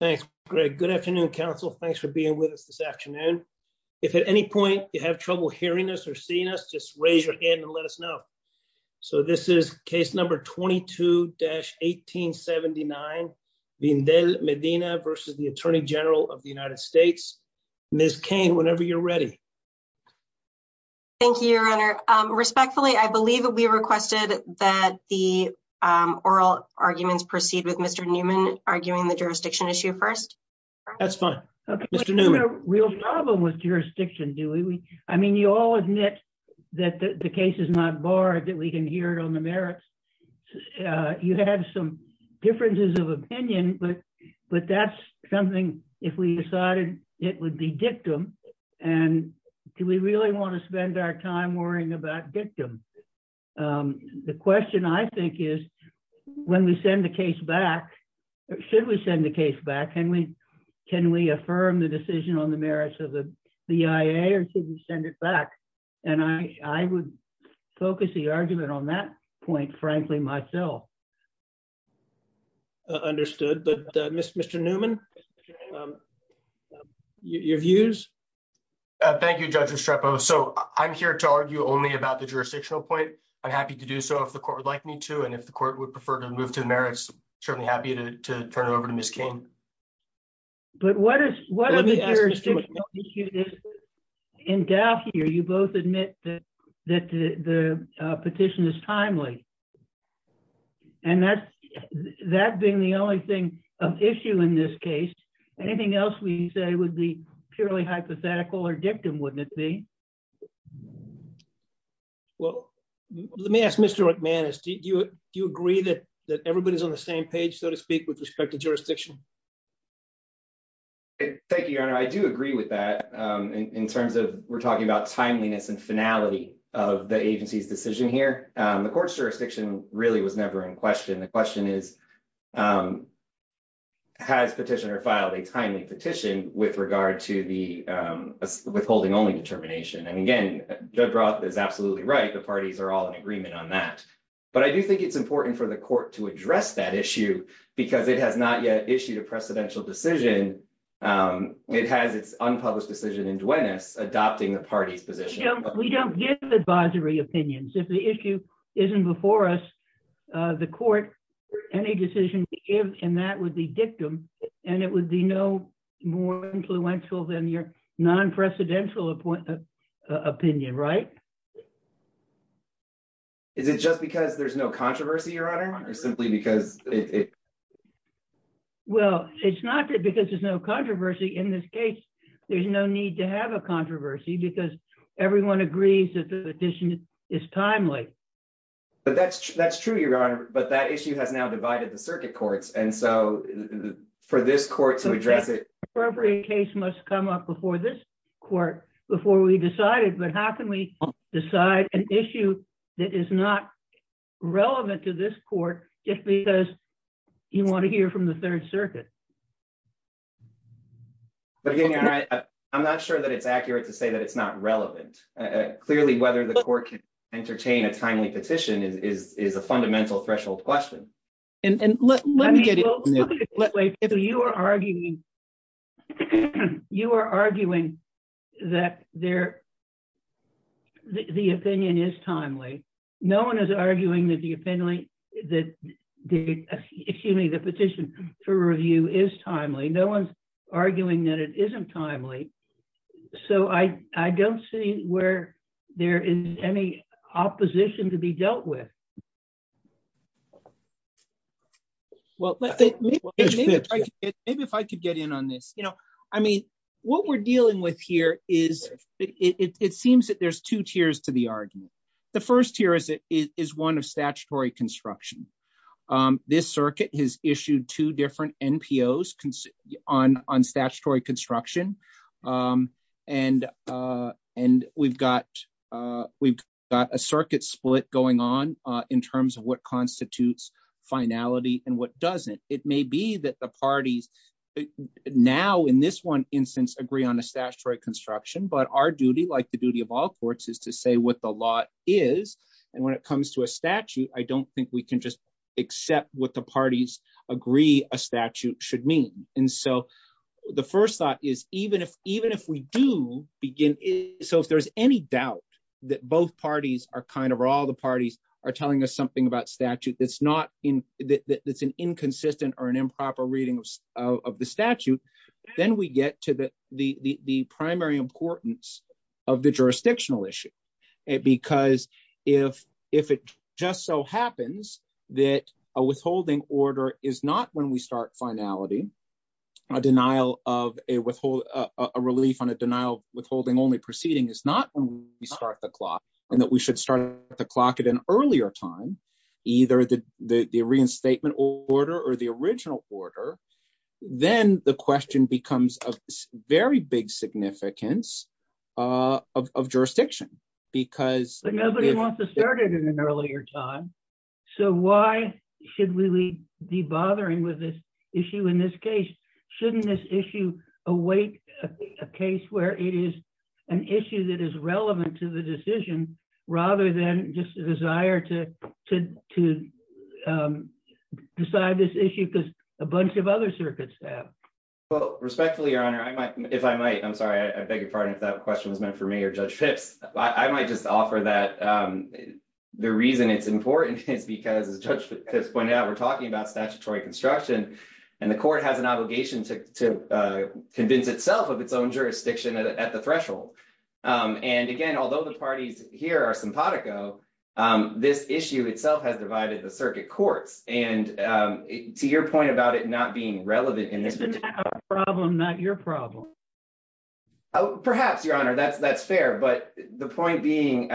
Thank you, Greg. Good afternoon, Council. Thanks for being with us this afternoon. If at any point you have trouble hearing us or seeing us, just raise your hand and let us know. So this is case number 22-1879, Vndel-Medina v. Atty Gen USA. Ms. Cain, whenever you're ready. Thank you, Your Honor. Respectfully, I believe we requested that the oral arguments proceed with Mr. Neumann arguing the jurisdiction issue first. That's fine. Mr. Neumann. We don't have a real problem with jurisdiction, do we? I mean, you all admit that the case is not barred, that we can hear it on the merits. You have some differences of opinion, but that's something if we decided it would be dictum. And do we really want to spend our time worrying about dictum? The question, I think, is when we send the case back, should we send the case back? Can we affirm the decision on the merits of the BIA or should we send it back? And I would focus the argument on that point, frankly, myself. Understood. But Mr. Neumann, your views? Thank you, Judge Estrepo. So I'm here to argue only about the jurisdictional point. I'm happy to do so if the court would like me to. And if the court would prefer to move to the merits, certainly happy to turn it over to Ms. Cain. But what is, what are the jurisdictional issues? In Dauphine, you both admit that the petition is timely. And that being the only thing of issue in this case, anything else we say would be purely hypothetical or dictum, wouldn't it be? Well, let me ask Mr. McManus, do you agree that everybody's on the same page, so to speak, with respect to jurisdiction? Thank you, Your Honor. I do agree with that in terms of we're talking about timeliness and finality of the agency's decision here. The court's jurisdiction really was never in question. The question is, has petitioner filed a timely petition with regard to the withholding only determination? And again, Judge Roth is absolutely right. The parties are all in agreement on that. But I do think it's important for the court to address that issue because it has not yet issued a precedential decision. It has its unpublished decision in Duenas adopting the party's position. We don't give advisory opinions. If the issue isn't before us, the court, any decision to give in that would be dictum. And it would be no more influential than your non-precedential opinion, right? Is it just because there's no controversy, Your Honor, or simply because it? Well, it's not because there's no controversy. In this case, there's no need to have a controversy because everyone agrees that the petition is timely. But that's true, Your Honor. But that issue has now divided the circuit courts. And so for this court to address it. The appropriate case must come up before this court before we decide it. But how can we decide an issue that is not relevant to this court just because you want to hear from the Third Circuit? But again, Your Honor, I'm not sure that it's accurate to say that it's not relevant. Clearly, whether the court can entertain a timely petition is a fundamental threshold question. You are arguing that the opinion is timely. No one is arguing that the petition for review is timely. No one's arguing that it isn't timely. So I don't see where there is any opposition to be dealt with. Well, maybe if I could get in on this, you know, I mean, what we're dealing with here is it seems that there's two tiers to the argument. The first tier is it is one of statutory construction. This circuit has issued two different NPOs on on statutory construction. And and we've got we've got a circuit split going on in terms of what constitutes finality and what doesn't. It may be that the parties now in this one instance agree on a statutory construction. But our duty, like the duty of all courts, is to say what the law is. And when it comes to a statute, I don't think we can just accept what the parties agree a statute should mean. And so the first thought is, even if even if we do begin. So if there's any doubt that both parties are kind of all the parties are telling us something about statute, that's not that's an inconsistent or an improper reading of the statute. Then we get to the the primary importance of the jurisdictional issue. Because if if it just so happens that a withholding order is not when we start finality, a denial of a withhold a relief on a denial withholding only proceeding is not when we start the clock and that we should start the clock at an earlier time. Either the the reinstatement order or the original order. Then the question becomes a very big significance of jurisdiction, because nobody wants to start it in an earlier time. So why should we be bothering with this issue in this case, shouldn't this issue, await a case where it is an issue that is relevant to the decision, rather than just desire to to decide this issue because a bunch of other circuits. Well, respectfully, your honor, I might if I might I'm sorry, I beg your pardon. If that question was meant for me or judge tips, I might just offer that the reason it's important is because as judge pointed out, we're talking about statutory construction. And the court has an obligation to convince itself of its own jurisdiction at the threshold. And again, although the parties here are simpatico this issue itself has divided the circuit courts and to your point about it not being relevant in this problem, not your problem. Perhaps your honor that's that's fair. But the point being,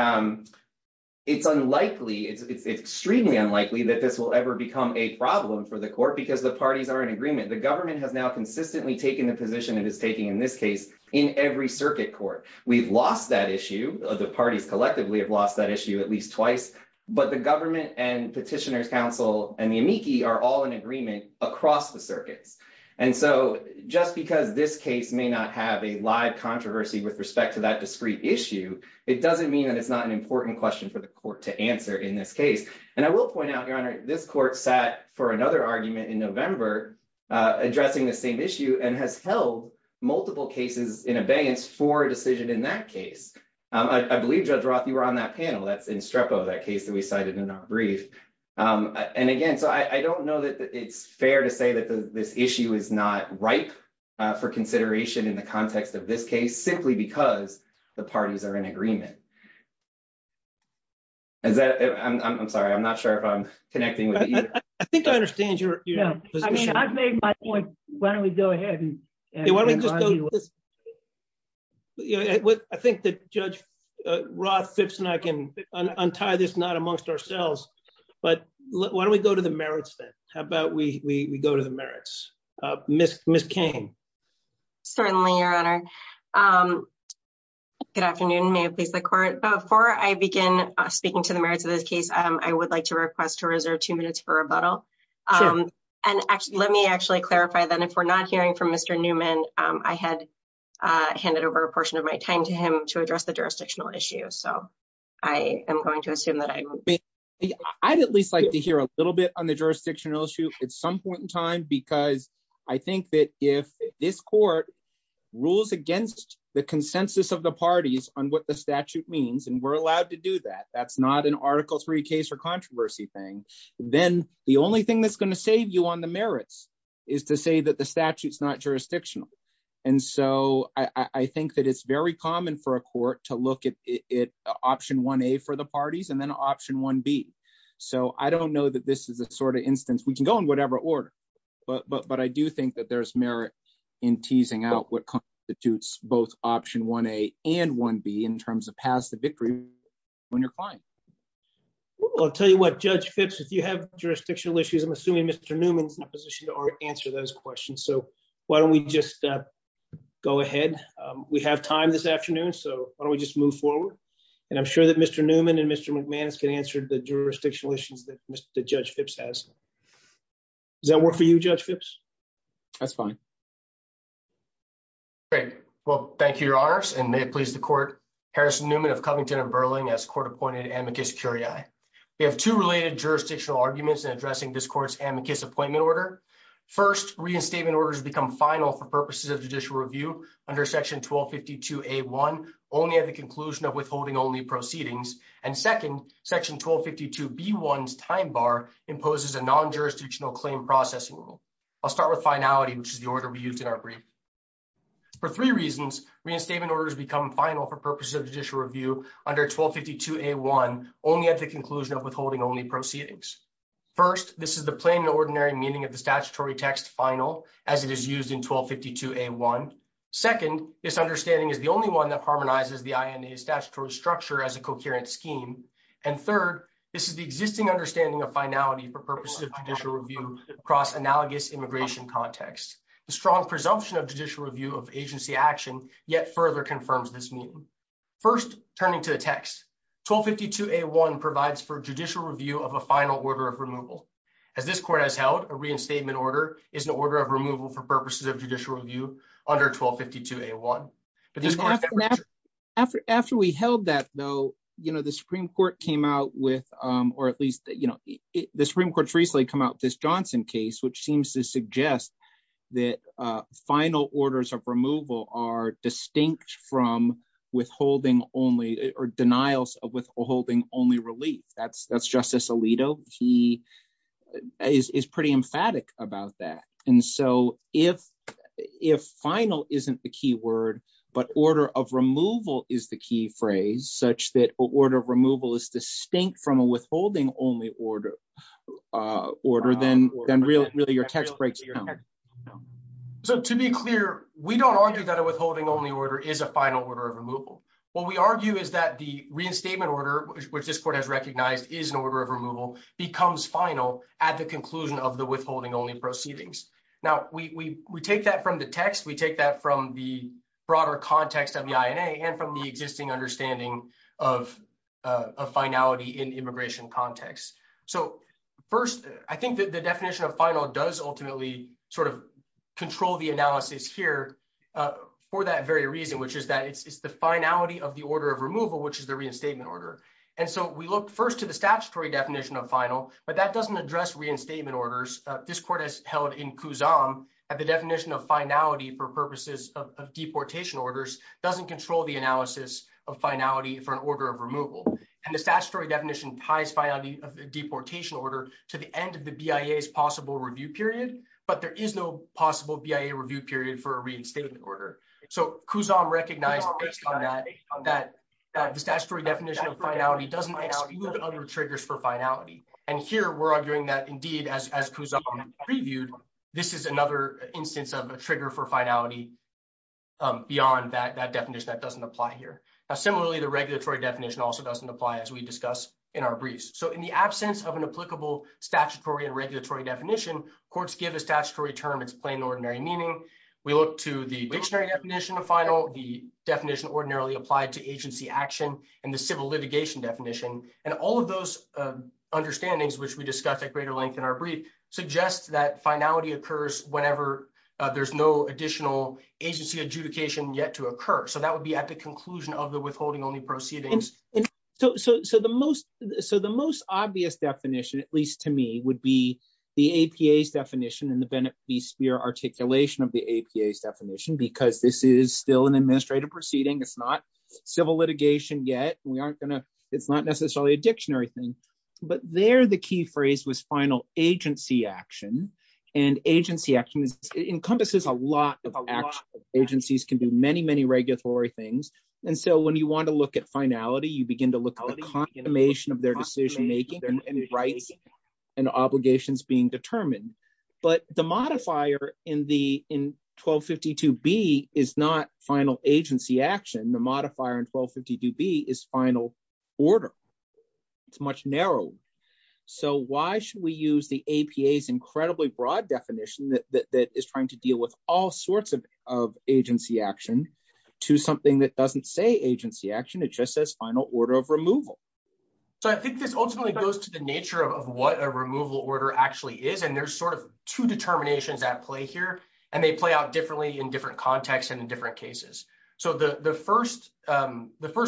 it's unlikely it's extremely unlikely that this will ever become a problem for the court because the parties are in agreement. The government has now consistently taken the position it is taking in this case, in every circuit court, we've lost that issue of the parties collectively have lost that issue at least twice. But the government and petitioners council and the amici are all in agreement across the circuits. And so, just because this case may not have a live controversy with respect to that discrete issue. It doesn't mean that it's not an important question for the court to answer in this case. And I will point out your honor this court sat for another argument in November, addressing the same issue and has held multiple cases in abeyance for decision in that case. I believe Judge Roth you were on that panel that's in strepo that case that we cited in our brief. And again, so I don't know that it's fair to say that this issue is not ripe for consideration in the context of this case simply because the parties are in agreement. I'm sorry I'm not sure if I'm connecting with you. I think I understand your point. Why don't we go ahead and I think that Judge Roth fits and I can untie this not amongst ourselves. But why don't we go to the merits that, how about we go to the merits, Miss Miss Kane. Certainly, your honor. Good afternoon may please the court before I begin speaking to the merits of this case, I would like to request to reserve two minutes for rebuttal. And actually let me actually clarify that if we're not hearing from Mr. Newman, I had handed over a portion of my time to him to address the jurisdictional issue so I am going to assume that I would be. I'd at least like to hear a little bit on the jurisdictional issue at some point in time because I think that if this court rules against the consensus of the parties on what the statute means and we're allowed to do that that's not an article three case for controversy thing, then the only thing that's going to save you on the merits is to say that the statutes not jurisdictional. And so I think that it's very common for a court to look at it option one a for the parties and then option one be. So I don't know that this is the sort of instance we can go in whatever order, but but but I do think that there's merit in teasing out what constitutes both option one a and one be in terms of past the victory. When you're fine. I'll tell you what judge fits if you have jurisdictional issues I'm assuming Mr Newman's in a position to answer those questions so why don't we just go ahead. We have time this afternoon so why don't we just move forward. And I'm sure that Mr Newman and Mr McManus can answer the jurisdictional issues that Mr. Judge tips has that work for you judge tips. That's fine. Great. Well, thank you, your honors and may it please the court. Harrison Newman of Covington and Berlin as court appointed amicus curiae. We have two related jurisdictional arguments and addressing this course amicus appointment order. First, reinstatement orders become final for purposes of judicial review under section 1250 to a one only at the conclusion of withholding only proceedings and second section 1250 to be one's time bar imposes a non jurisdictional claim processing. I'll start with finality which is the order we used in our brief. For three reasons, reinstatement orders become final for purposes of judicial review under 1250 to a one only at the conclusion of withholding only proceedings. First, this is the plain ordinary meaning of the statutory text final, as it is used in 1250 to a one. Second, this understanding is the only one that harmonizes the statutory structure as a coherent scheme. And third, this is the existing understanding of finality for purposes of judicial review across analogous immigration context, the strong presumption of judicial review of agency action, yet further confirms this meeting. First, turning to the text 1250 to a one provides for judicial review of a final order of removal. As this court has held a reinstatement order is an order of removal for purposes of judicial review under 1250 to a one. After after we held that though, you know the Supreme Court came out with, or at least, you know, the Supreme Court recently come out this Johnson case which seems to suggest that final orders of removal are distinct from withholding only or denials of withholding only relief that's that's justice Alito, he is pretty emphatic about that. And so, if, if final isn't the keyword. But order of removal is the key phrase such that order of removal is distinct from a withholding only order, order, then, then really, really your text breaks. So to be clear, we don't argue that a withholding only order is a final order of removal. What we argue is that the reinstatement order, which this court has recognized is an order of removal becomes final at the conclusion of the withholding only Now, we take that from the text we take that from the broader context of the INA and from the existing understanding of a finality in immigration context. So, first, I think that the definition of final does ultimately sort of control the analysis here for that very reason, which is that it's the finality of the order of removal, which is the reinstatement order. And so we look first to the statutory definition of final, but that doesn't address reinstatement orders. This court has held in Kuzan at the definition of finality for purposes of deportation orders doesn't control the analysis of finality for an order of removal. And the statutory definition ties finality of deportation order to the end of the BIA's possible review period, but there is no possible BIA review period for a reinstatement order. So Kuzan recognized that the statutory definition of finality doesn't exclude other triggers for finality. And here we're arguing that indeed as Kuzan previewed, this is another instance of a trigger for finality beyond that definition that doesn't apply here. Similarly, the regulatory definition also doesn't apply as we discuss in our briefs. So in the absence of an applicable statutory and regulatory definition, courts give a statutory term its plain and ordinary meaning. We look to the dictionary definition of final, the definition ordinarily applied to agency action, and the civil litigation definition. And all of those understandings, which we discussed at greater length in our brief, suggests that finality occurs whenever there's no additional agency adjudication yet to occur. So that would be at the conclusion of the withholding only proceedings. So the most obvious definition, at least to me, would be the APA's definition and the Bennett v. Speer articulation of the APA's definition because this is still an administrative proceeding, it's not civil litigation yet, it's not necessarily a dictionary thing. But there the key phrase was final agency action. And agency action encompasses a lot of action. Agencies can do many, many regulatory things. And so when you want to look at finality, you begin to look at the confirmation of their decision making and rights and obligations being determined. But the modifier in 1252B is not final agency action. The modifier in 1252B is final order. It's much narrower. So why should we use the APA's incredibly broad definition that is trying to deal with all sorts of agency action to something that doesn't say agency action, it just says final order of removal? So I think this ultimately goes to the nature of what a removal order actually is. And there's sort of two determinations at play here. And they play out differently in different contexts and in different cases. So the first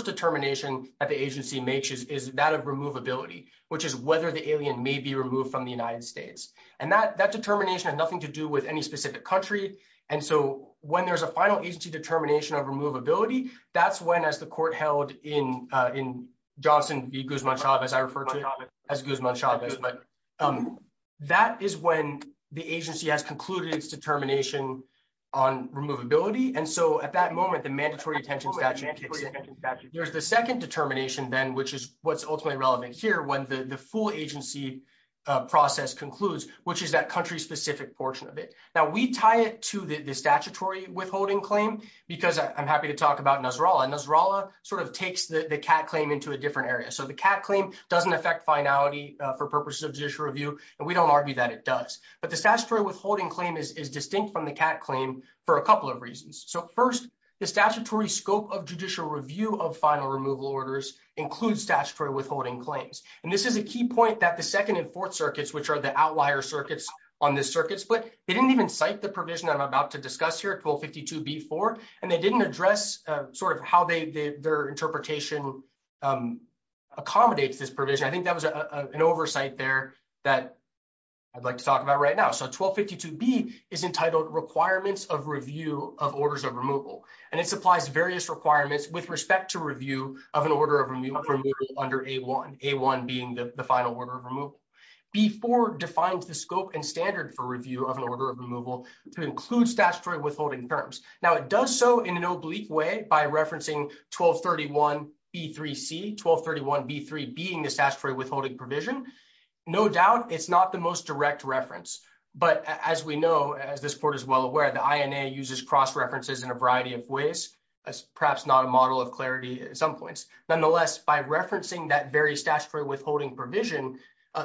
determination that the agency makes is that of removability, which is whether the alien may be removed from the United States. And that determination has nothing to do with any specific country. And so when there's a final agency determination of removability, that's when, as the court held in Johnson v. Guzman-Chavez, I refer to it as Guzman-Chavez, that is when the agency has concluded its determination on removability. And so at that moment, the mandatory detention statute kicks in. There's the second determination then, which is what's ultimately relevant here when the full agency process concludes, which is that country-specific portion of it. Now, we tie it to the statutory withholding claim, because I'm happy to talk about Nasrallah. Nasrallah sort of takes the CAT claim into a different area. So the CAT claim doesn't affect finality for purposes of judicial review. And we don't argue that it does. But the statutory withholding claim is distinct from the CAT claim for a couple of reasons. So first, the statutory scope of judicial review of final removal orders includes statutory withholding claims. And this is a key point that the Second and Fourth Circuits, which are the outlier circuits on this circuit split, they didn't even cite the provision I'm about to discuss here, 1252b4, and they didn't address sort of how their interpretation accommodates this provision. I think that was an oversight there that I'd like to talk about right now. So 1252b is entitled Requirements of Review of Orders of Removal, and it supplies various requirements with respect to review of an order of removal under A1, A1 being the final order of removal. B4 defines the scope and standard for review of an order of removal to include statutory withholding terms. Now, it does so in an oblique way by referencing 1231b3c, 1231b3 being the statutory withholding provision. No doubt, it's not the most direct reference. But as we know, as this court is well aware, the INA uses cross-references in a variety of ways, perhaps not a model of clarity at some points. Nonetheless, by referencing that very statutory withholding provision,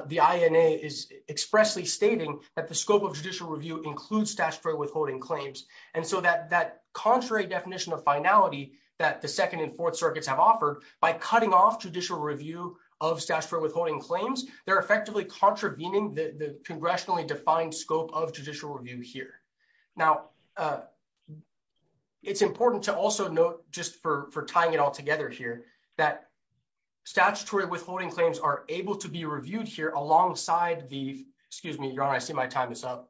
the INA is expressly stating that the scope of judicial review includes statutory withholding claims. And so that contrary definition of finality that the Second and Fourth Circuits have offered by cutting off judicial review of statutory withholding claims, they're effectively contravening the congressionally defined scope of judicial review here. Now, it's important to also note, just for tying it all together here, that statutory withholding claims are able to be reviewed here alongside the, excuse me, Your Honor, I see my time is up.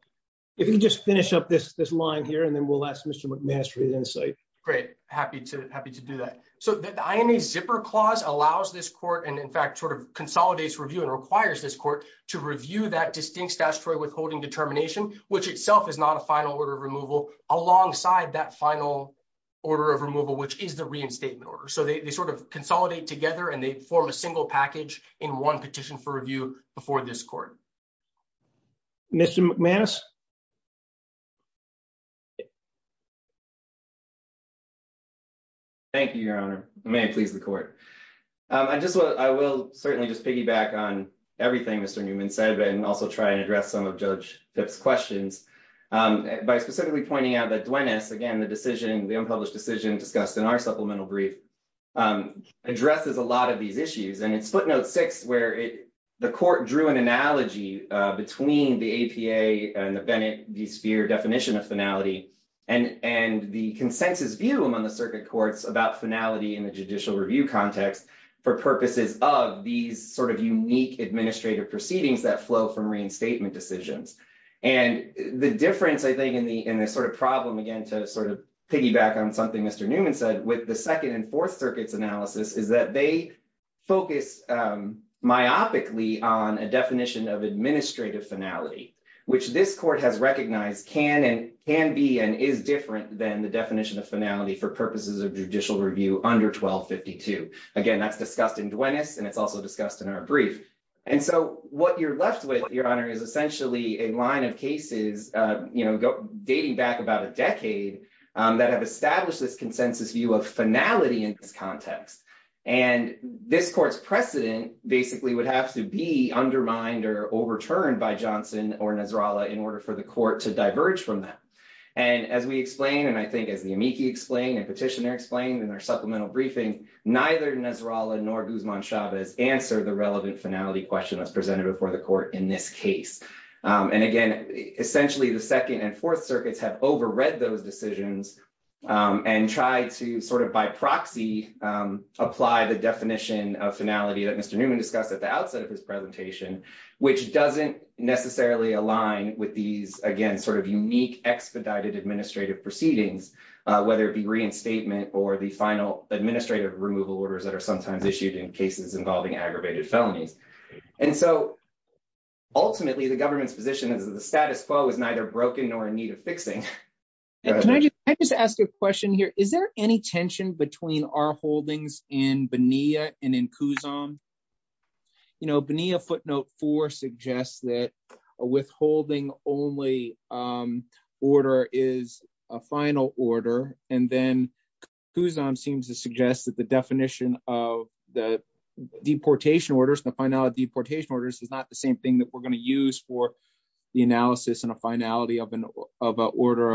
If you can just finish up this line here, and then we'll ask Mr. McManus for his insight. Great, happy to do that. So the INA Zipper Clause allows this court, and in fact sort of consolidates review and requires this court to review that distinct statutory withholding determination, which itself is not a final order of removal, alongside that final order of removal, which is the reinstatement order. So they sort of consolidate together and they form a single package in one petition for review before this court. Mr. McManus. Thank you, Your Honor. May it please the court. I just want, I will certainly just piggyback on everything Mr. Newman said and also try and address some of Judge Fipp's questions by specifically pointing out that Duenas, again the decision, the unpublished decision discussed in our supplemental brief, addresses a lot of these issues and it's footnote six where the court drew an analogy between the APA and the Bennett v. Sphere definition of finality and the consensus view among the circuit courts about finality in the judicial review context for purposes of these analysis is that they focus myopically on a definition of administrative finality, which this court has recognized can and can be and is different than the definition of finality for purposes of judicial review under 1252. Again, that's discussed in Duenas and it's also discussed in our brief. And so what you're left with, Your Honor, is essentially a line of cases dating back about a decade that have established this consensus view of finality in this context. And this court's precedent basically would have to be undermined or overturned by Johnson or Nasrallah in order for the court to diverge from that. And as we explained, and I think as the amici explained and petitioner explained in our supplemental briefing, neither Nasrallah nor Guzman Chavez answered the relevant finality question that's presented before the court in this case. And again, essentially, the second and fourth circuits have overread those decisions and tried to sort of by proxy apply the definition of finality that Mr. Newman discussed at the outset of his presentation, which doesn't necessarily align with these, again, sort of unique expedited administrative proceedings, whether it be reinstatement or the final administrative removal orders that are sometimes issued in cases involving aggravated felonies. And so, ultimately, the government's position is that the status quo is neither broken nor in need of fixing. Can I just ask a question here? Is there any tension between our holdings in Bonilla and in Kuzan? You know, Bonilla footnote four suggests that a withholding only order is a final order. And then Kuzan seems to suggest that the definition of the deportation orders, the final deportation orders is not the same thing that we're going to use for the analysis and a finality of an order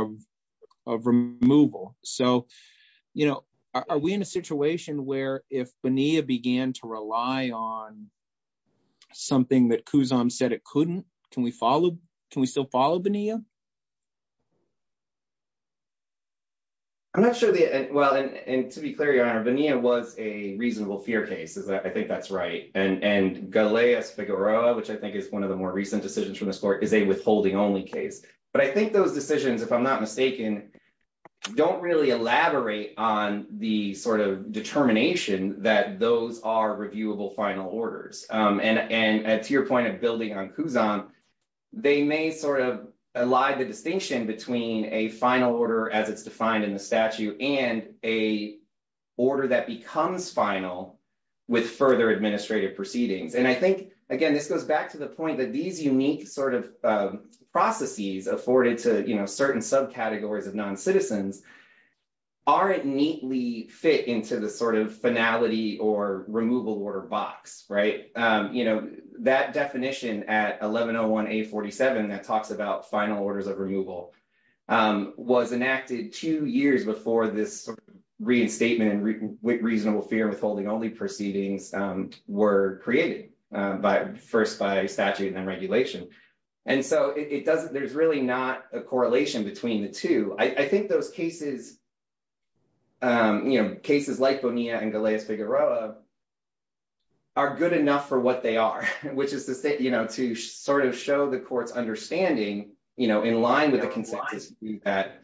of removal. So, you know, are we in a situation where if Bonilla began to rely on something that Kuzan said it couldn't, can we follow, can we still follow Bonilla? I'm not sure. Well, and to be clear, your Honor, Bonilla was a reasonable fear case. I think that's right. And Galea Figueroa, which I think is one of the more recent decisions from this court, is a withholding only case. But I think those decisions, if I'm not mistaken, don't really elaborate on the sort of determination that those are reviewable final orders. And to your point of building on Kuzan, they may sort of lie the distinction between a final order as it's defined in the statute and a order that becomes final with further administrative proceedings. And I think, again, this goes back to the point that these unique sort of processes afforded to certain subcategories of non-citizens aren't neatly fit into the sort of finality or removal order box. You know, that definition at 1101A47 that talks about final orders of removal was enacted two years before this reinstatement and reasonable fear withholding only proceedings were created, first by statute and then regulation. And so it doesn't, there's really not a correlation between the two. I think those cases, you know, cases like Bonilla and Galea Figueroa are good enough for what they are, which is to say, you know, to sort of show the court's understanding, you know, in line with the consensus that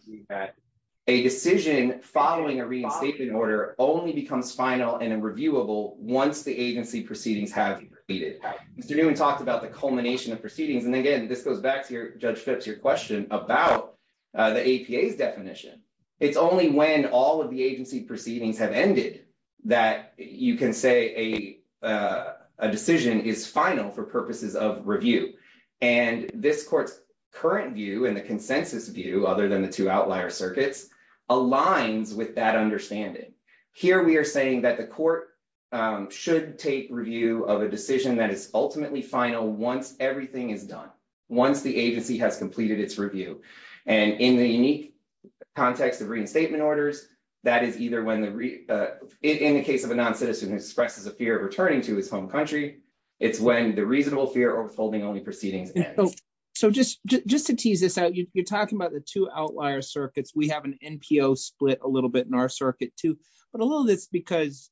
a decision following a reinstatement order only becomes final and reviewable once the agency proceedings have been created. Mr. Newman talked about the culmination of proceedings. And again, this goes back to Judge Phipps, your question about the APA's definition. It's only when all of the agency proceedings have ended that you can say a decision is final for purposes of review. And this court's current view and the consensus view, other than the two outlier circuits, aligns with that understanding. Here we are saying that the court should take review of a decision that is ultimately final once everything is done, once the agency has completed its review. And in the unique context of reinstatement orders, that is either when, in the case of a non-citizen who expresses a fear of returning to his home country, it's when the reasonable fear of withholding only proceedings ends. So just to tease this out, you're talking about the two outlier circuits. We have an NPO split a little bit in our circuit, too. But a little bit is because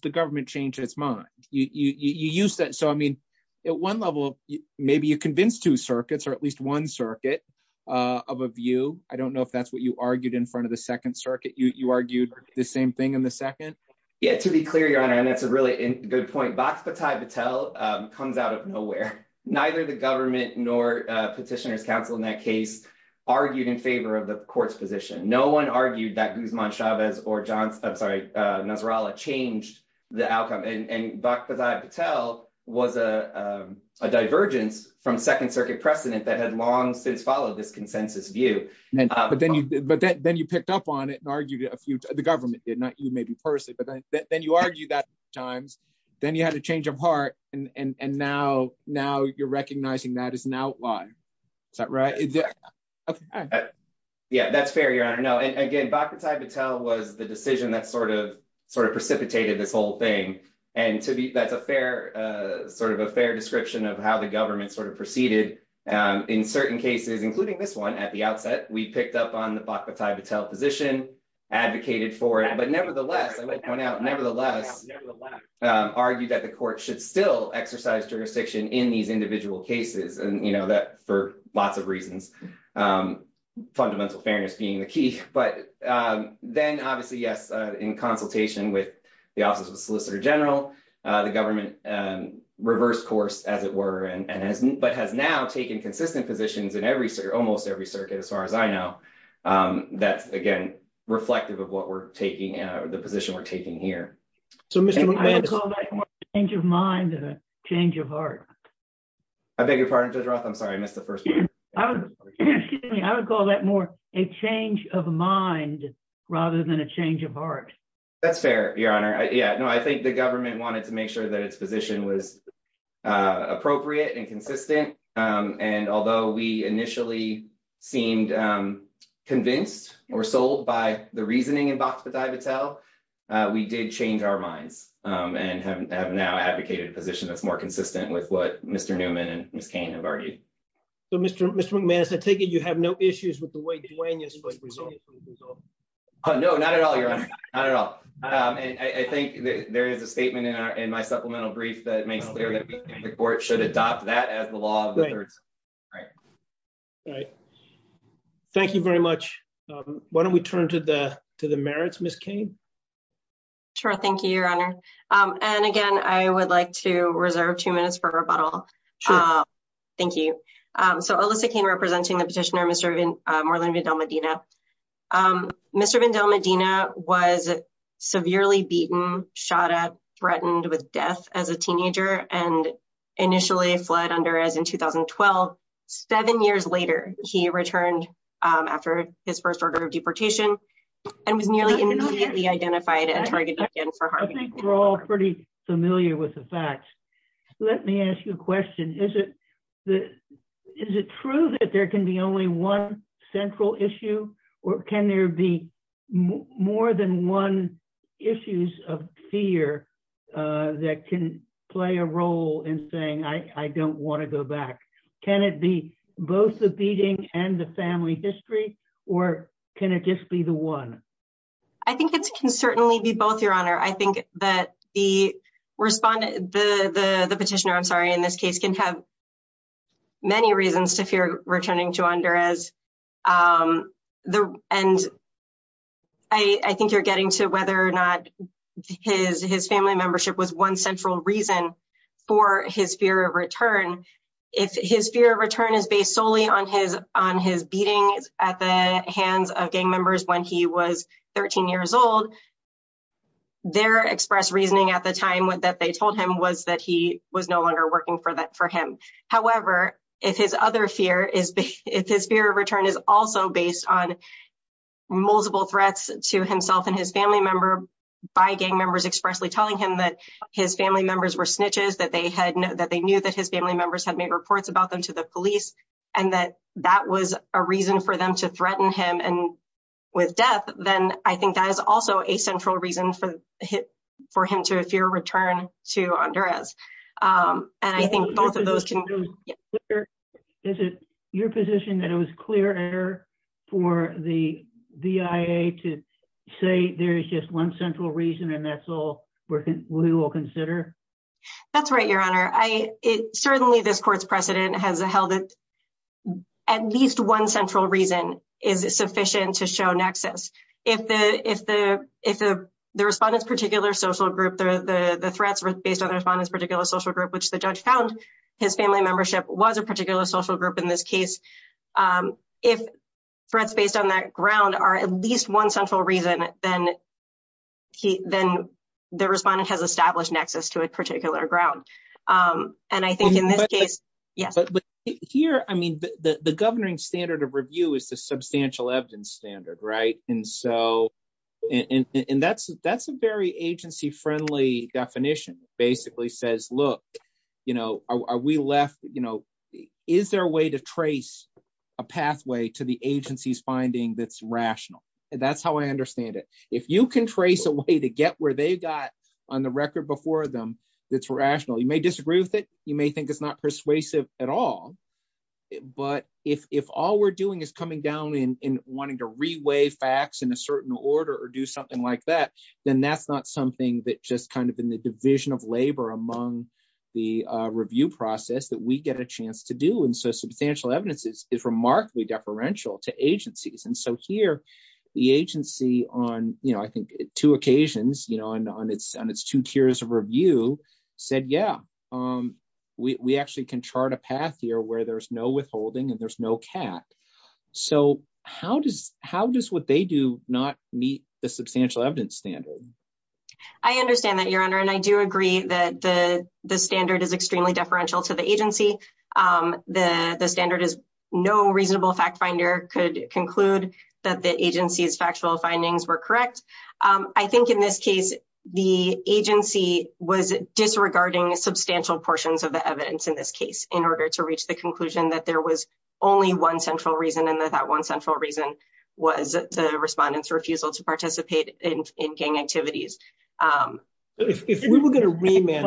the government changed its mind. You used that. So, I mean, at one level, maybe you convinced two circuits or at least one circuit of a view. I don't know if that's what you argued in front of the second circuit. You argued the same thing in the second? Yeah, to be clear, Your Honor, and that's a really good point, Bhakta Patel comes out of nowhere. Neither the government nor Petitioner's Council in that case argued in favor of the court's position. No one argued that Guzman Chavez or, I'm sorry, Nasrallah changed the outcome. And Bhakta Patel was a divergence from second circuit precedent that had long since followed this consensus view. But then you picked up on it and argued a few, the government did not, you maybe personally, but then you argue that times. Then you had a change of heart. And now, now you're recognizing that as an outlier. Is that right? Yeah, that's fair, Your Honor. No, again, Bhakta Patel was the decision that sort of precipitated this whole thing. And to me, that's a fair sort of a fair description of how the government sort of proceeded in certain cases, including this one. At the outset, we picked up on the Bhakta Patel position, advocated for it. But nevertheless, I would point out, nevertheless, argued that the court should still exercise jurisdiction in these individual cases. And that for lots of reasons, fundamental fairness being the key. But then, obviously, yes, in consultation with the Office of the Solicitor General, the government reversed course, as it were. And but has now taken consistent positions in every, almost every circuit, as far as I know. That's, again, reflective of what we're taking, the position we're taking here. So I would call that a change of mind and a change of heart. I beg your pardon, Judge Roth. I'm sorry, I missed the first part. I would call that more a change of mind rather than a change of heart. That's fair, Your Honor. Yeah, no, I think the government wanted to make sure that its position was appropriate and consistent. And although we initially seemed convinced or sold by the reasoning in Bhakta Patel, we did change our minds and have now advocated a position that's more consistent with what Mr. McManus had taken. You have no issues with the way Duane has resolved. Oh, no, not at all, Your Honor. Not at all. I think there is a statement in my supplemental brief that makes clear that the court should adopt that as the law of the thirds. Right. Right. Thank you very much. Why don't we turn to the to the merits, Ms. Kane? Sure. Thank you, Your Honor. And again, I would like to reserve two minutes for rebuttal. Thank you. So Alyssa Kane representing the petitioner, Mr. Moreland Vidal-Medina. Mr. Vidal-Medina was severely beaten, shot at, threatened with death as a teenager and initially fled under as in 2012. Seven years later, he returned after his first order of deportation and was nearly immediately identified and targeted again for harming. I think we're all pretty familiar with the facts. Let me ask you a question. Is it true that there can be only one central issue or can there be more than one issues of fear that can play a role in saying I don't want to go back? Can it be both the beating and the family history or can it just be the one? I think it can certainly be both, Your Honor. I think that the respondent, the petitioner, I'm sorry, in this case can have many reasons to fear returning to under as the end. I think you're getting to whether or not his his family membership was one central reason for his fear of return. If his fear of return is based solely on his on his beating at the hands of gang members when he was 13 years old, their express reasoning at the time that they told him was that he was no longer working for that for him. However, if his other fear is if his fear of return is also based on multiple threats to himself and his family member by gang members, his family members were snitches that they had that they knew that his family members had made reports about them to the police and that that was a reason for them to threaten him. And with death, then I think that is also a central reason for him to fear return to under as. And I think both of those. Is it your position that it was clear for the VIA to say there is just one central reason and that's all we will consider? That's right, Your Honor. I certainly this court's precedent has held at least one central reason is sufficient to show nexus. If the if the if the the respondents particular social group, the threats based on the respondents particular social group, which the judge found his family membership was a particular social group in this case. If threats based on that ground are at least one central reason, then he then the respondent has established nexus to a particular ground. And I think in this case, yes, but here, I mean, the governing standard of review is the substantial evidence standard. Right. And so and that's that's a very agency friendly definition basically says, look, you know, are we left? You know, is there a way to trace a pathway to the agency's finding that's rational? That's how I understand it. If you can trace a way to get where they got on the record before them, that's rational. You may disagree with it. You may think it's not persuasive at all. But if if all we're doing is coming down and wanting to reweigh facts in a certain order or do something like that, then that's not something that just kind of in the division of labor among the review process that we get a chance to do. And so substantial evidence is remarkably deferential to agencies. And so here the agency on, you know, I think two occasions, you know, on its on its two tiers of review said, yeah, we actually can chart a path here where there's no withholding and there's no cat. So how does how does what they do not meet the substantial evidence standard? I understand that, Your Honor, and I do agree that the standard is extremely deferential to the agency. The standard is no reasonable fact finder could conclude that the agency's factual findings were correct. I think in this case, the agency was disregarding substantial portions of the evidence in this case in order to reach the conclusion that there was only one central reason and that that one central reason was the respondents refusal to participate in gang activities. If we were going to remain.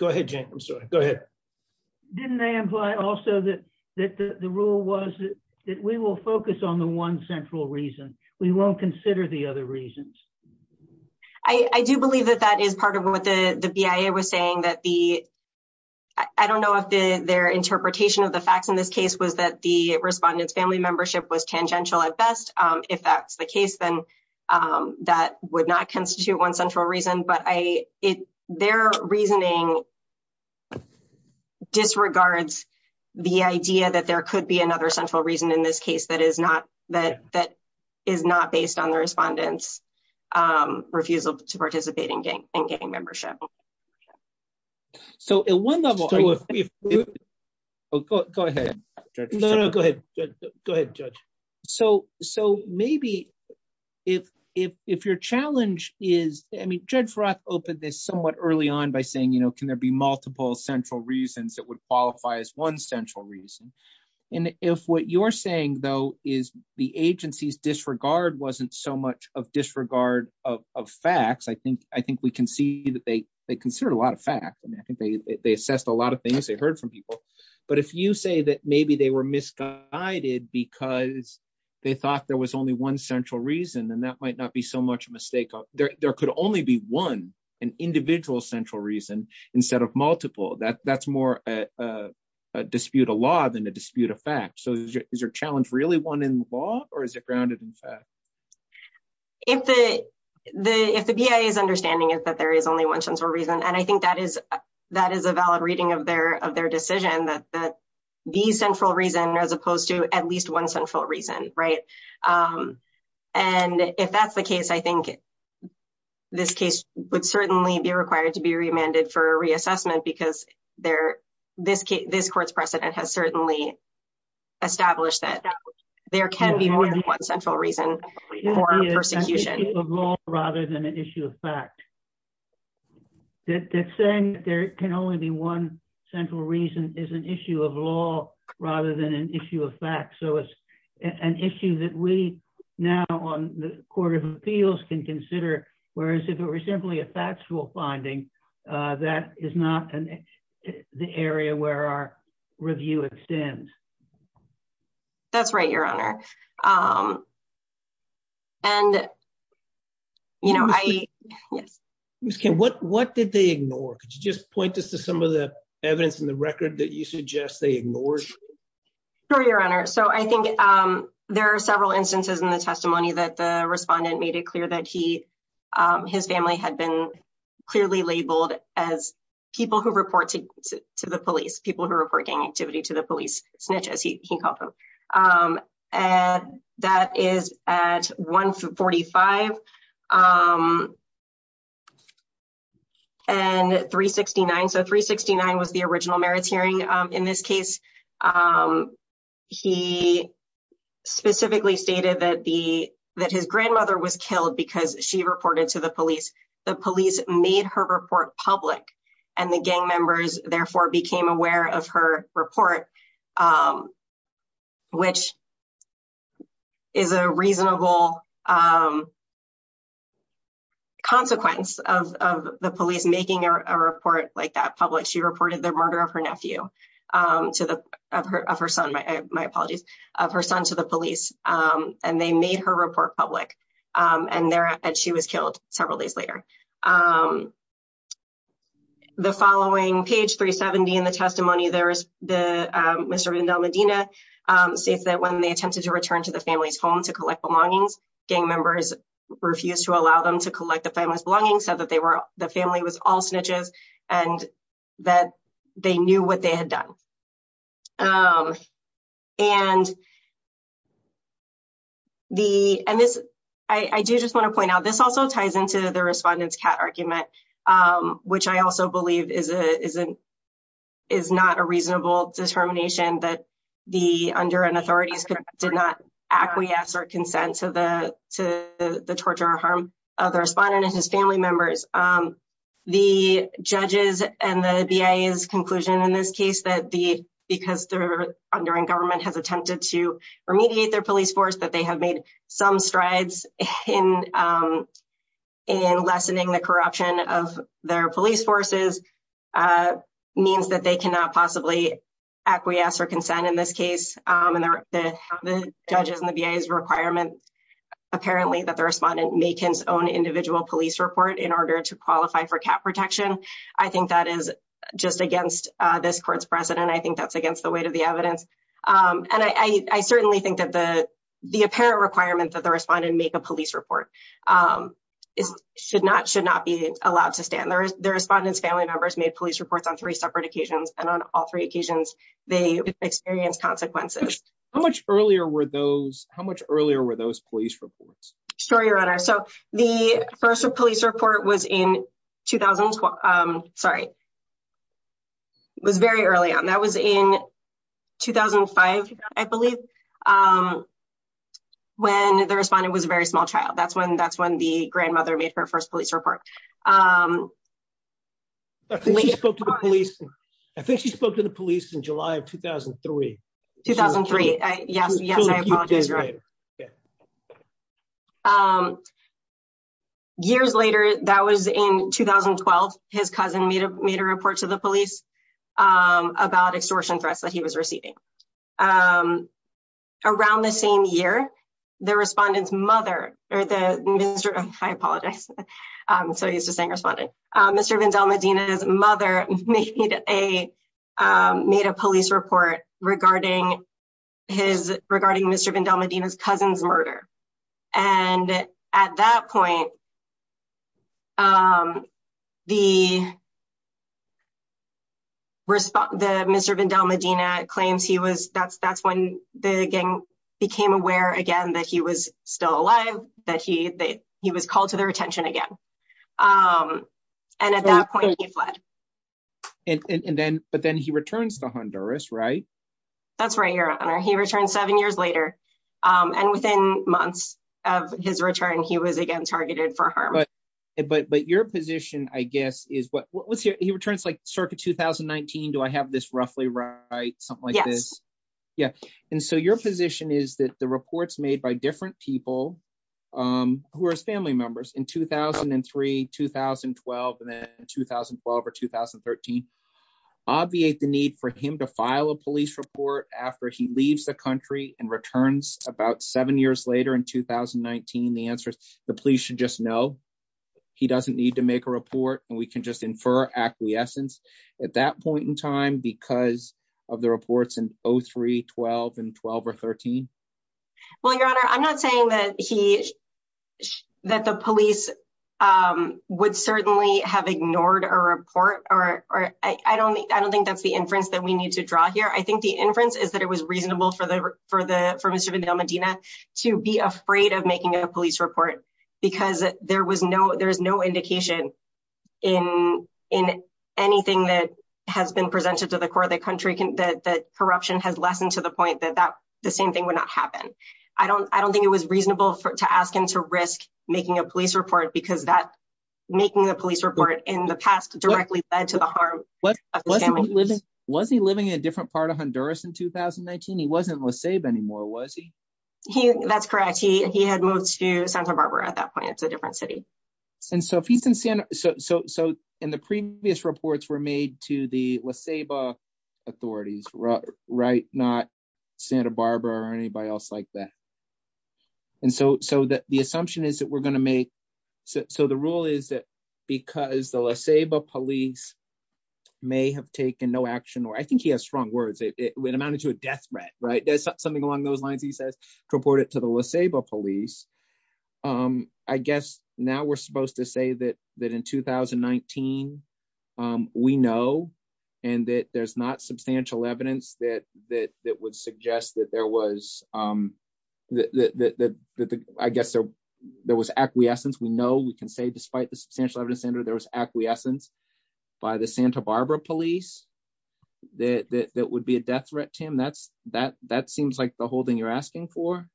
Go ahead. I'm sorry. Go ahead. Didn't they imply also that the rule was that we will focus on the one central reason. We won't consider the other reasons. I do believe that that is part of what the BIA was saying, that the. I don't know if their interpretation of the facts in this case was that the respondents family membership was tangential at best. If that's the case, then that would not constitute one central reason. But I it their reasoning disregards the idea that there could be another central reason in this case. That is not that that is not based on the respondents refusal to participate in gang and gang membership. So at one level. Oh, go ahead. No, no, go ahead. Go ahead, Judge. So so maybe if if if your challenge is, I mean, Judge Roth opened this somewhat early on by saying, you know, can there be multiple central reasons that would qualify as one central reason? And if what you're saying, though, is the agency's disregard wasn't so much of disregard of facts, I think I think we can see that they they consider a lot of fact. And I think they assessed a lot of things they heard from people. But if you say that maybe they were misguided because they thought there was only one central reason, then that might not be so much a mistake. There could only be one an individual central reason instead of multiple that that's more a dispute, a law than a dispute of fact. So is your challenge really one in law or is it grounded in fact? If the the if the BIA is understanding is that there is only one central reason. And I think that is that is a valid reading of their of their decision that the central reason, as opposed to at least one central reason. Right. And if that's the case, I think this case would certainly be required to be remanded for reassessment because there this this court's precedent has certainly established that there can be more than one central reason for persecution of law rather than an issue of fact. That's saying there can only be one central reason is an issue of law rather than an issue of fact. So it's an issue that we now on the Court of Appeals can consider, whereas if it were simply a factual finding, that is not the area where our review extends. That's right, Your Honor. And. You know, I can. What what did they ignore? Could you just point this to some of the evidence in the record that you suggest they ignored? Your Honor. So I think there are several instances in the testimony that the respondent made it clear that he his family had been clearly labeled as people who report to the police, people who are working activity to the police snitch, as he called them. And that is at 145. And 369. So 369 was the original merits hearing. In this case, he specifically stated that the that his grandmother was killed because she reported to the police. The police made her report public and the gang members therefore became aware of her report, which is a reasonable consequence of the police making a report like that public. She reported the murder of her nephew to the of her son, my apologies, of her son to the police, and they made her report public and there and she was killed several days later. The following page 370 in the testimony, there is the Mr. States that when they attempted to return to the family's home to collect belongings, gang members refused to allow them to collect the family's belongings so that they were the family was all snitches and that they knew what they had done. And. The, and this, I do just want to point out this also ties into the respondents cat argument, which I also believe is a isn't is not a reasonable determination that the under and authorities did not acquiesce or consent to the to the torture or harm of the respondent and his family members. The judges and the conclusion in this case that the because they're under and government has attempted to remediate their police force that they have made some strides in. In lessening the corruption of their police forces means that they cannot possibly acquiesce or consent in this case, and the judges and the VA is requirement. Apparently that the respondent make his own individual police report in order to qualify for cap protection. I think that is just against this court's precedent. I think that's against the weight of the evidence. And I certainly think that the, the apparent requirement that the respondent make a police report is should not should not be allowed to stand there is the respondents family members made police reports on three separate occasions, and on all three occasions, they experienced consequences. How much earlier were those how much earlier were those police reports. Sure, your honor. So, the first police report was in 2012. I'm sorry. Was very early on that was in 2005, I believe. When the respondent was a very small child that's when that's when the grandmother made her first police report. I think she spoke to the police in July of 2003 2003. Yes, yes. Years later, that was in 2012, his cousin made a made a report to the police about extortion threats that he was receiving. Around the same year, the respondents mother, or the minister, I apologize. So he's just saying responding. Mr Vandell Medina's mother made a made a police report regarding his regarding Mr Vandell Medina's cousin's murder. And at that point, the respondent Mr Vandell Medina claims he was that's that's when the gang became aware again that he was still alive, that he that he was called to their attention again. And at that point, he fled. And then, but then he returns to Honduras right. That's right, your honor he returned seven years later, and within months of his return he was again targeted for harm. But, but but your position, I guess, is what was your returns like circuit 2019 Do I have this roughly right something like this. Yeah. And so your position is that the reports made by different people who are family members in 2003 2012 and 2012 or 2013. Obviate the need for him to file a police report after he leaves the country and returns, about seven years later in 2019 the answer is the police should just know he doesn't need to make a report, and we can just infer acquiescence. At that point in time because of the reports in 03 12 and 12 or 13. Well, your honor, I'm not saying that he that the police would certainly have ignored or report, or, or, I don't think I don't think that's the inference that we need to draw here I think the inference is that it was reasonable for the, for the, for Mr Vandell Medina to be afraid of making a police report, because there was no there's no indication in, in anything that has been presented to the core of the country can that corruption has lessened to the point that that the same thing would not happen. I don't, I don't think it was reasonable for to ask him to risk, making a police report because that making the police report in the past directly led to the harm. What was he living a different part of Honduras in 2019 he wasn't was saved anymore was he. He, that's correct he he had moved to Santa Barbara at that point it's a different city. And so if he's in Santa. So, so, so, in the previous reports were made to the less a bar authorities, right, right, not Santa Barbara or anybody else like that. And so, so that the assumption is that we're going to make. So the rule is that because the less a bar police may have taken no action or I think he has strong words it amounted to a death threat right there's something along those lines he says reported police. I guess now we're supposed to say that that in 2019. We know, and that there's not substantial evidence that that that would suggest that there was that I guess there was acquiescence we know we can say despite the substantial evidence center there was acquiescence by the Santa Barbara police, that that would be a death threat to him that's that that seems like the whole thing you're asking for.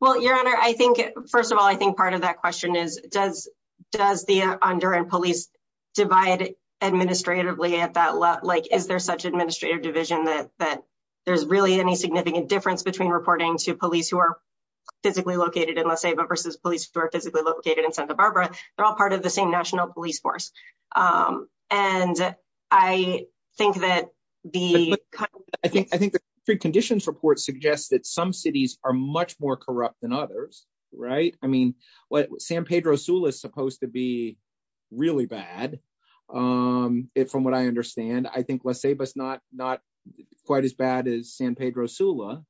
Well, Your Honor, I think, first of all, I think part of that question is, does, does the under and police divide administratively at that like is there such administrative division that that there's really any significant difference between reporting to police who are physically located in the same versus police who are physically located in Santa Barbara, they're all part of the same National Police Force. And I think that the. I think I think the conditions report suggests that some cities are much more corrupt than others. Right. I mean, what San Pedro Sula is supposed to be really bad. It from what I understand I think let's save us not not quite as bad as San Pedro Sula.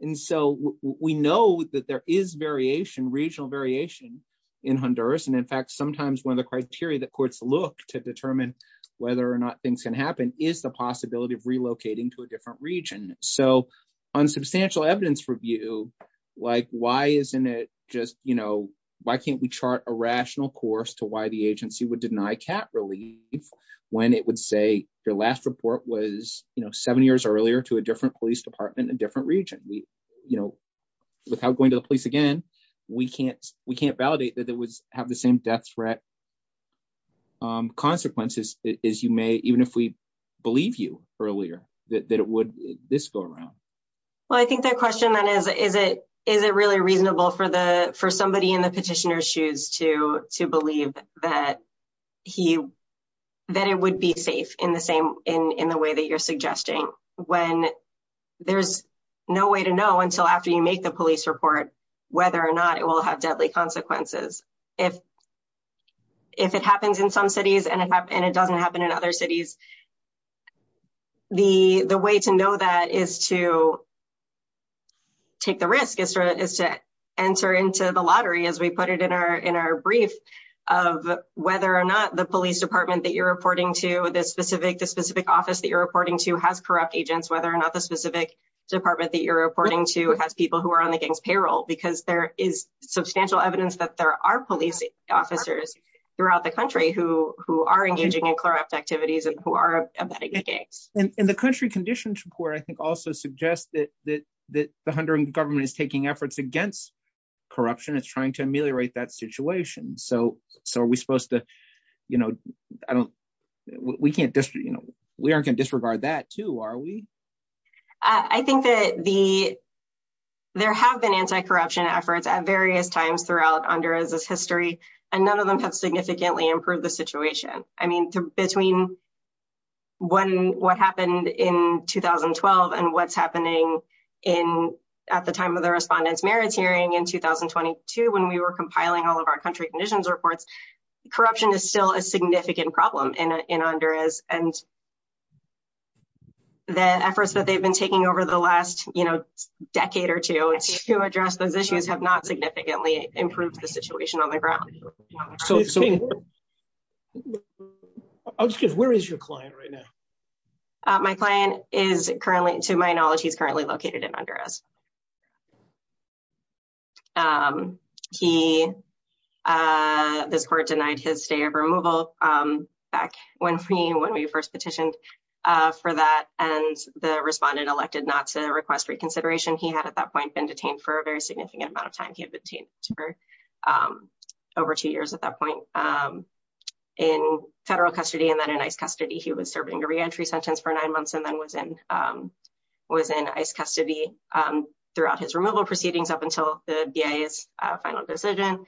And so we know that there is variation regional variation in Honduras and in fact sometimes one of the criteria that courts look to determine whether or not things can happen is the possibility of relocating to a different region. So, on substantial evidence review, like why isn't it just, you know, why can't we chart a rational course to why the agency would deny cat relief, when it would say your last report was, you know, seven years earlier to a different police department and different region we, you know, without going to the police again. We can't, we can't validate that that was have the same death threat consequences is you may even if we believe you earlier that it would this go around. Well, I think the question that is, is it, is it really reasonable for the for somebody in the petitioner shoes to to believe that he, that it would be safe in the same in the way that you're suggesting when there's no way to know until after you make the police report, whether or not it will have deadly consequences. If, if it happens in some cities and it doesn't happen in other cities. The, the way to know that is to take the risk is to is to enter into the lottery as we put it in our in our brief of whether or not the police department that you're reporting to this specific the specific office that you're reporting to has corrupt agents whether or not the specific department that you're reporting to has people who are on the gang's payroll because there is substantial evidence that there are police officers throughout the country who who are engaging in corrupt activities and who are in the country conditions report I think also suggest that that that the hundred government is taking efforts against corruption is trying to ameliorate that situation so so are we supposed to, you know, I don't, we can't just, you know, we aren't going to disregard that to are we. I think that the. There have been anti corruption efforts at various times throughout under is this history, and none of them have significantly improved the situation. I mean, between when what happened in 2012 and what's happening in at the time of the respondents merits hearing and what's happening in 2022 when we were compiling all of our country conditions reports corruption is still a significant problem in under is, and the efforts that they've been taking over the last, you know, decade or two to address those issues have not significantly improved the situation on the ground. So it's just where is your client right now. My client is currently to my knowledge he's currently located in under us. He. This court denied his stay of removal. Back when we when we first petitioned for that, and the respondent elected not to request reconsideration he had at that point been detained for a very significant amount of time he had been over two years at that point. In federal custody and then a nice custody he was serving a reentry sentence for nine months and then was in was in ice custody. Throughout his removal proceedings up until the VA is final decision.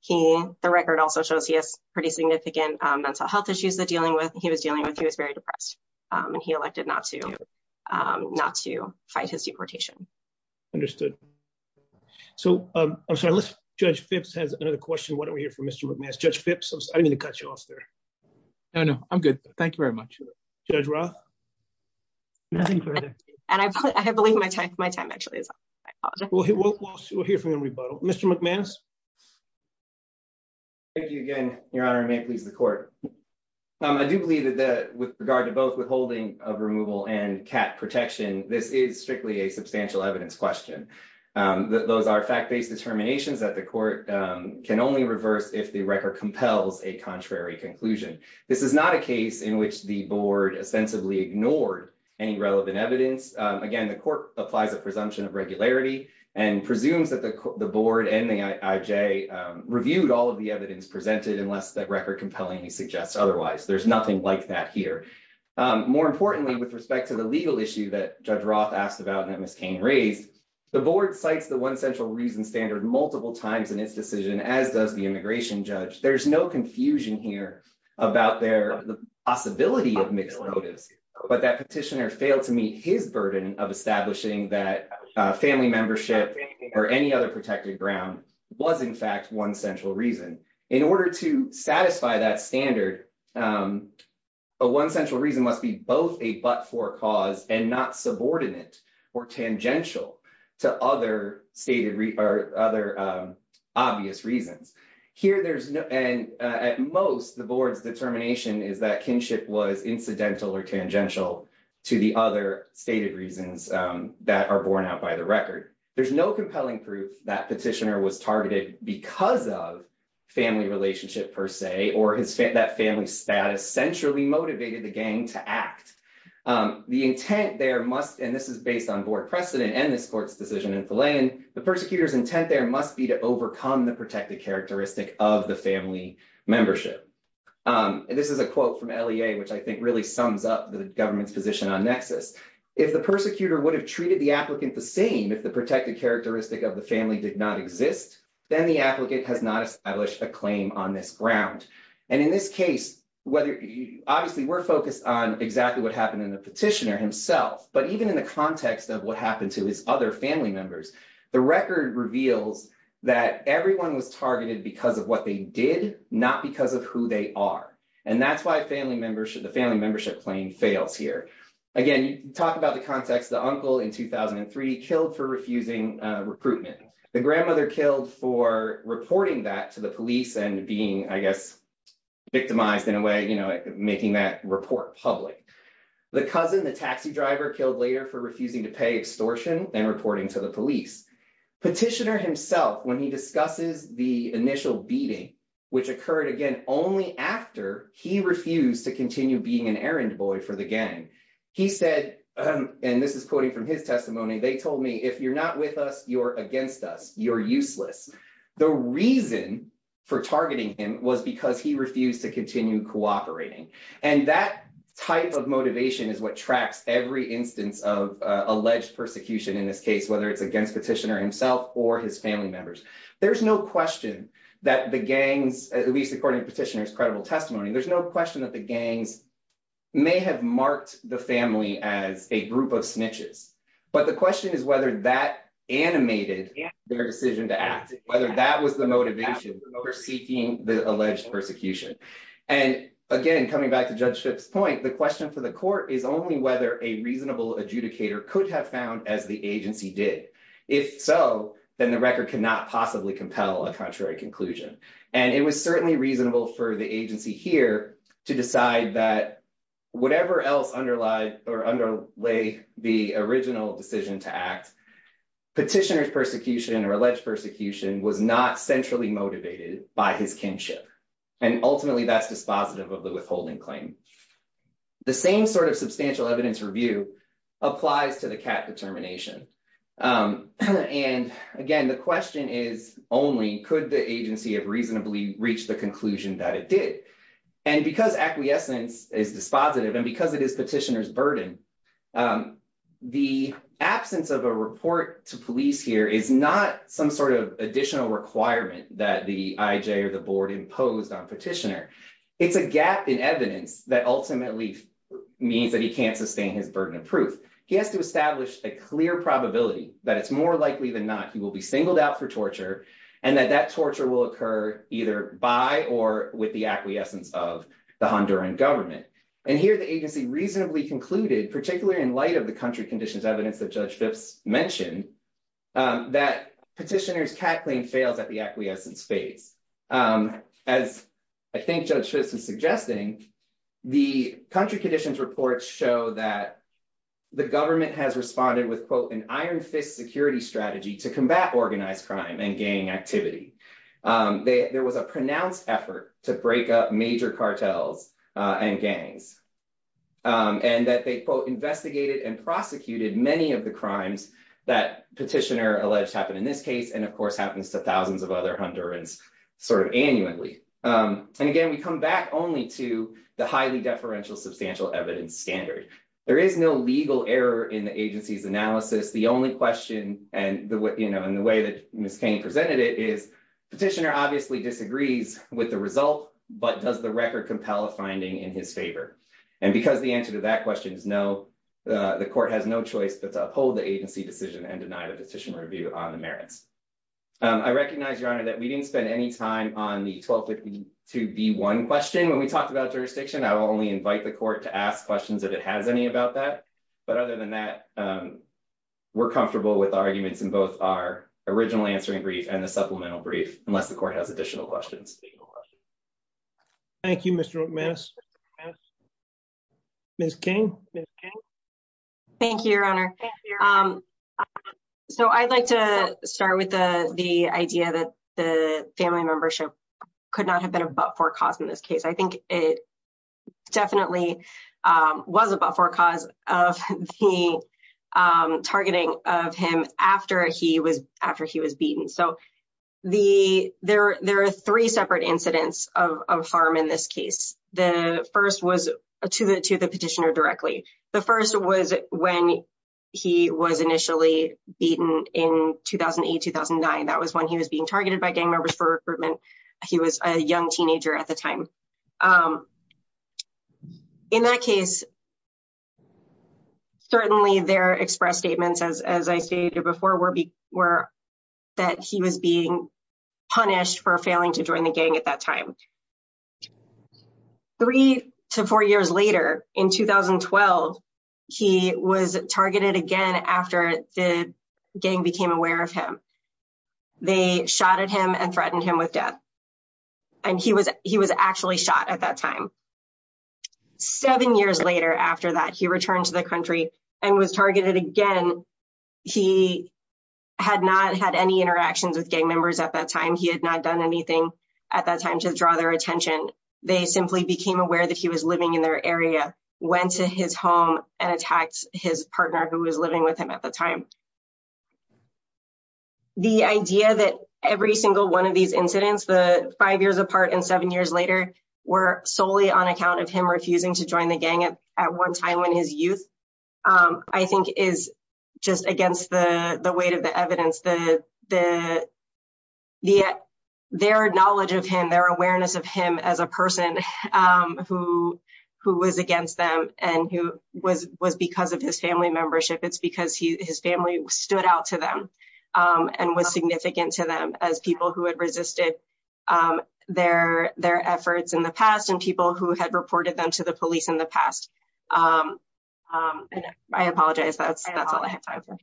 He, the record also shows he has pretty significant mental health issues that dealing with he was dealing with he was very depressed, and he elected not to not to fight his deportation. Understood. So, I'm sorry let's judge Fitz has another question why don't we hear from Mr. I'm going to cut you off there. No, no, I'm good. Thank you very much. Judge Roth. And I believe my tech my time actually is. We'll hear from him rebuttal, Mr. Thank you again, Your Honor may please the court. I do believe that that with regard to both withholding of removal and cat protection, this is strictly a substantial evidence question that those are fact based determinations that the court can only reverse if the record compels a contrary conclusion. This is not a case in which the board ostensibly ignored any relevant evidence. Again, the court applies a presumption of regularity and presumes that the, the board and the IJ reviewed all of the evidence presented unless that record compelling he suggests otherwise there's nothing like that here. More importantly, with respect to the legal issue that judge Roth asked about that Miss Cain raised the board sites the one central reason standard multiple times in its decision as does the immigration judge there's no confusion here about their possibility of mixed motives, but that petitioner failed to meet his burden of establishing that family membership or any other protected ground was in fact one central reason in order to satisfy that standard. One central reason must be both a but for cause and not subordinate or tangential to other stated or other obvious reasons here there's no and at most the board's determination is that kinship was incidental or tangential to the other stated reasons that are borne out by the record. There's no compelling proof that petitioner was targeted because of family relationship per se or his family that family status centrally motivated the gang to act. The intent there must and this is based on board precedent and this court's decision in the land, the persecutors intent there must be to overcome the protected characteristic of the family membership. And this is a quote from La, which I think really sums up the government's position on nexus if the persecutor would have treated the applicant, the same if the protected characteristic of the family did not exist. Then the applicant has not established a claim on this ground and in this case, whether you obviously were focused on exactly what happened in the petitioner himself, but even in the context of what happened to his other family members. The record reveals that everyone was targeted because of what they did not because of who they are. And that's why family membership, the family membership claim fails here. Again, talk about the context the uncle in 2003 killed for refusing recruitment, the grandmother killed for reporting that to the police and being, I guess, victimized in a way, you know, making that report public. The cousin, the taxi driver killed later for refusing to pay extortion and reporting to the police. Petitioner himself when he discusses the initial beating, which occurred again only after he refused to continue being an errand boy for the gang. He said, and this is quoting from his testimony, they told me, if you're not with us, you're against us, you're useless. The reason for targeting him was because he refused to continue cooperating. And that type of motivation is what tracks every instance of alleged persecution in this case, whether it's against petitioner himself or his family members. There's no question that the gangs, at least according to petitioner's credible testimony, there's no question that the gangs may have marked the family as a group of snitches. But the question is whether that animated their decision to act, whether that was the motivation for seeking the alleged persecution. And again, coming back to Judge Schiff's point, the question for the court is only whether a reasonable adjudicator could have found as the agency did. If so, then the record cannot possibly compel a contrary conclusion. And it was certainly reasonable for the agency here to decide that whatever else underlay the original decision to act, petitioner's persecution or alleged persecution was not centrally motivated by his kinship. And ultimately, that's dispositive of the withholding claim. The same sort of substantial evidence review applies to the CAT determination. And again, the question is only could the agency have reasonably reached the conclusion that it did. And because acquiescence is dispositive and because it is petitioner's burden, the absence of a report to police here is not some sort of additional requirement that the IJ or the board imposed on petitioner. It's a gap in evidence that ultimately means that he can't sustain his burden of proof. He has to establish a clear probability that it's more likely than not he will be singled out for torture and that that torture will occur either by or with the acquiescence of the Honduran government. And here the agency reasonably concluded, particularly in light of the country conditions evidence that Judge Phipps mentioned, that petitioner's CAT claim fails at the acquiescence phase. As I think Judge Phipps was suggesting, the country conditions reports show that the government has responded with, quote, an iron fist security strategy to combat organized crime and gang activity. There was a pronounced effort to break up major cartels and gangs and that they, quote, investigated and prosecuted many of the crimes that petitioner alleged happened in this case. And of course, happens to thousands of other Hondurans sort of annually. And again, we come back only to the highly deferential substantial evidence standard. There is no legal error in the agency's analysis. The only question and the way that Ms. Cain presented it is petitioner obviously disagrees with the result. But does the record compel a finding in his favor? And because the answer to that question is no, the court has no choice but to uphold the agency decision and deny the decision review on the merits. I recognize, Your Honor, that we didn't spend any time on the 1252B1 question when we talked about jurisdiction. I will only invite the court to ask questions if it has any about that. But other than that, we're comfortable with arguments in both our original answering brief and the supplemental brief, unless the court has additional questions. Thank you, Mr. McMast. Ms. Cain? Thank you, Your Honor. So I'd like to start with the idea that the family membership could not have been a but-for cause in this case. I think it definitely was a but-for cause of the targeting of him after he was after he was beaten. So there are three separate incidents of harm in this case. The first was to the petitioner directly. The first was when he was initially beaten in 2008-2009. That was when he was being targeted by gang members for recruitment. He was a young teenager at the time. In that case, certainly their express statements, as I stated before, were that he was being punished for failing to join the gang at that time. Three to four years later, in 2012, he was targeted again after the gang became aware of him. They shot at him and threatened him with death. And he was actually shot at that time. Seven years later after that, he returned to the country and was targeted again. He had not had any interactions with gang members at that time. He had not done anything at that time to draw their attention. They simply became aware that he was living in their area, went to his home, and attacked his partner who was living with him at the time. The idea that every single one of these incidents, five years apart and seven years later, were solely on account of him refusing to join the gang at one time in his youth, I think is just against the weight of the evidence. Their knowledge of him, their awareness of him as a person who was against them, and who was because of his family membership. It's because his family stood out to them and was significant to them as people who had resisted their efforts in the past, and people who had reported them to the police in the past. I apologize. That's all I have time for.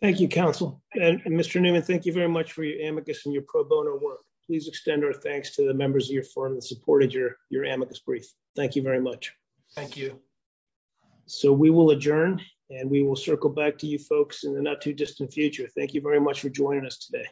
Thank you, Counsel. Mr. Newman, thank you very much for your amicus and your pro bono work. Please extend our thanks to the members of your firm who supported your amicus brief. Thank you very much. Thank you. So we will adjourn and we will circle back to you folks in the not too distant future. Thank you very much for joining us today.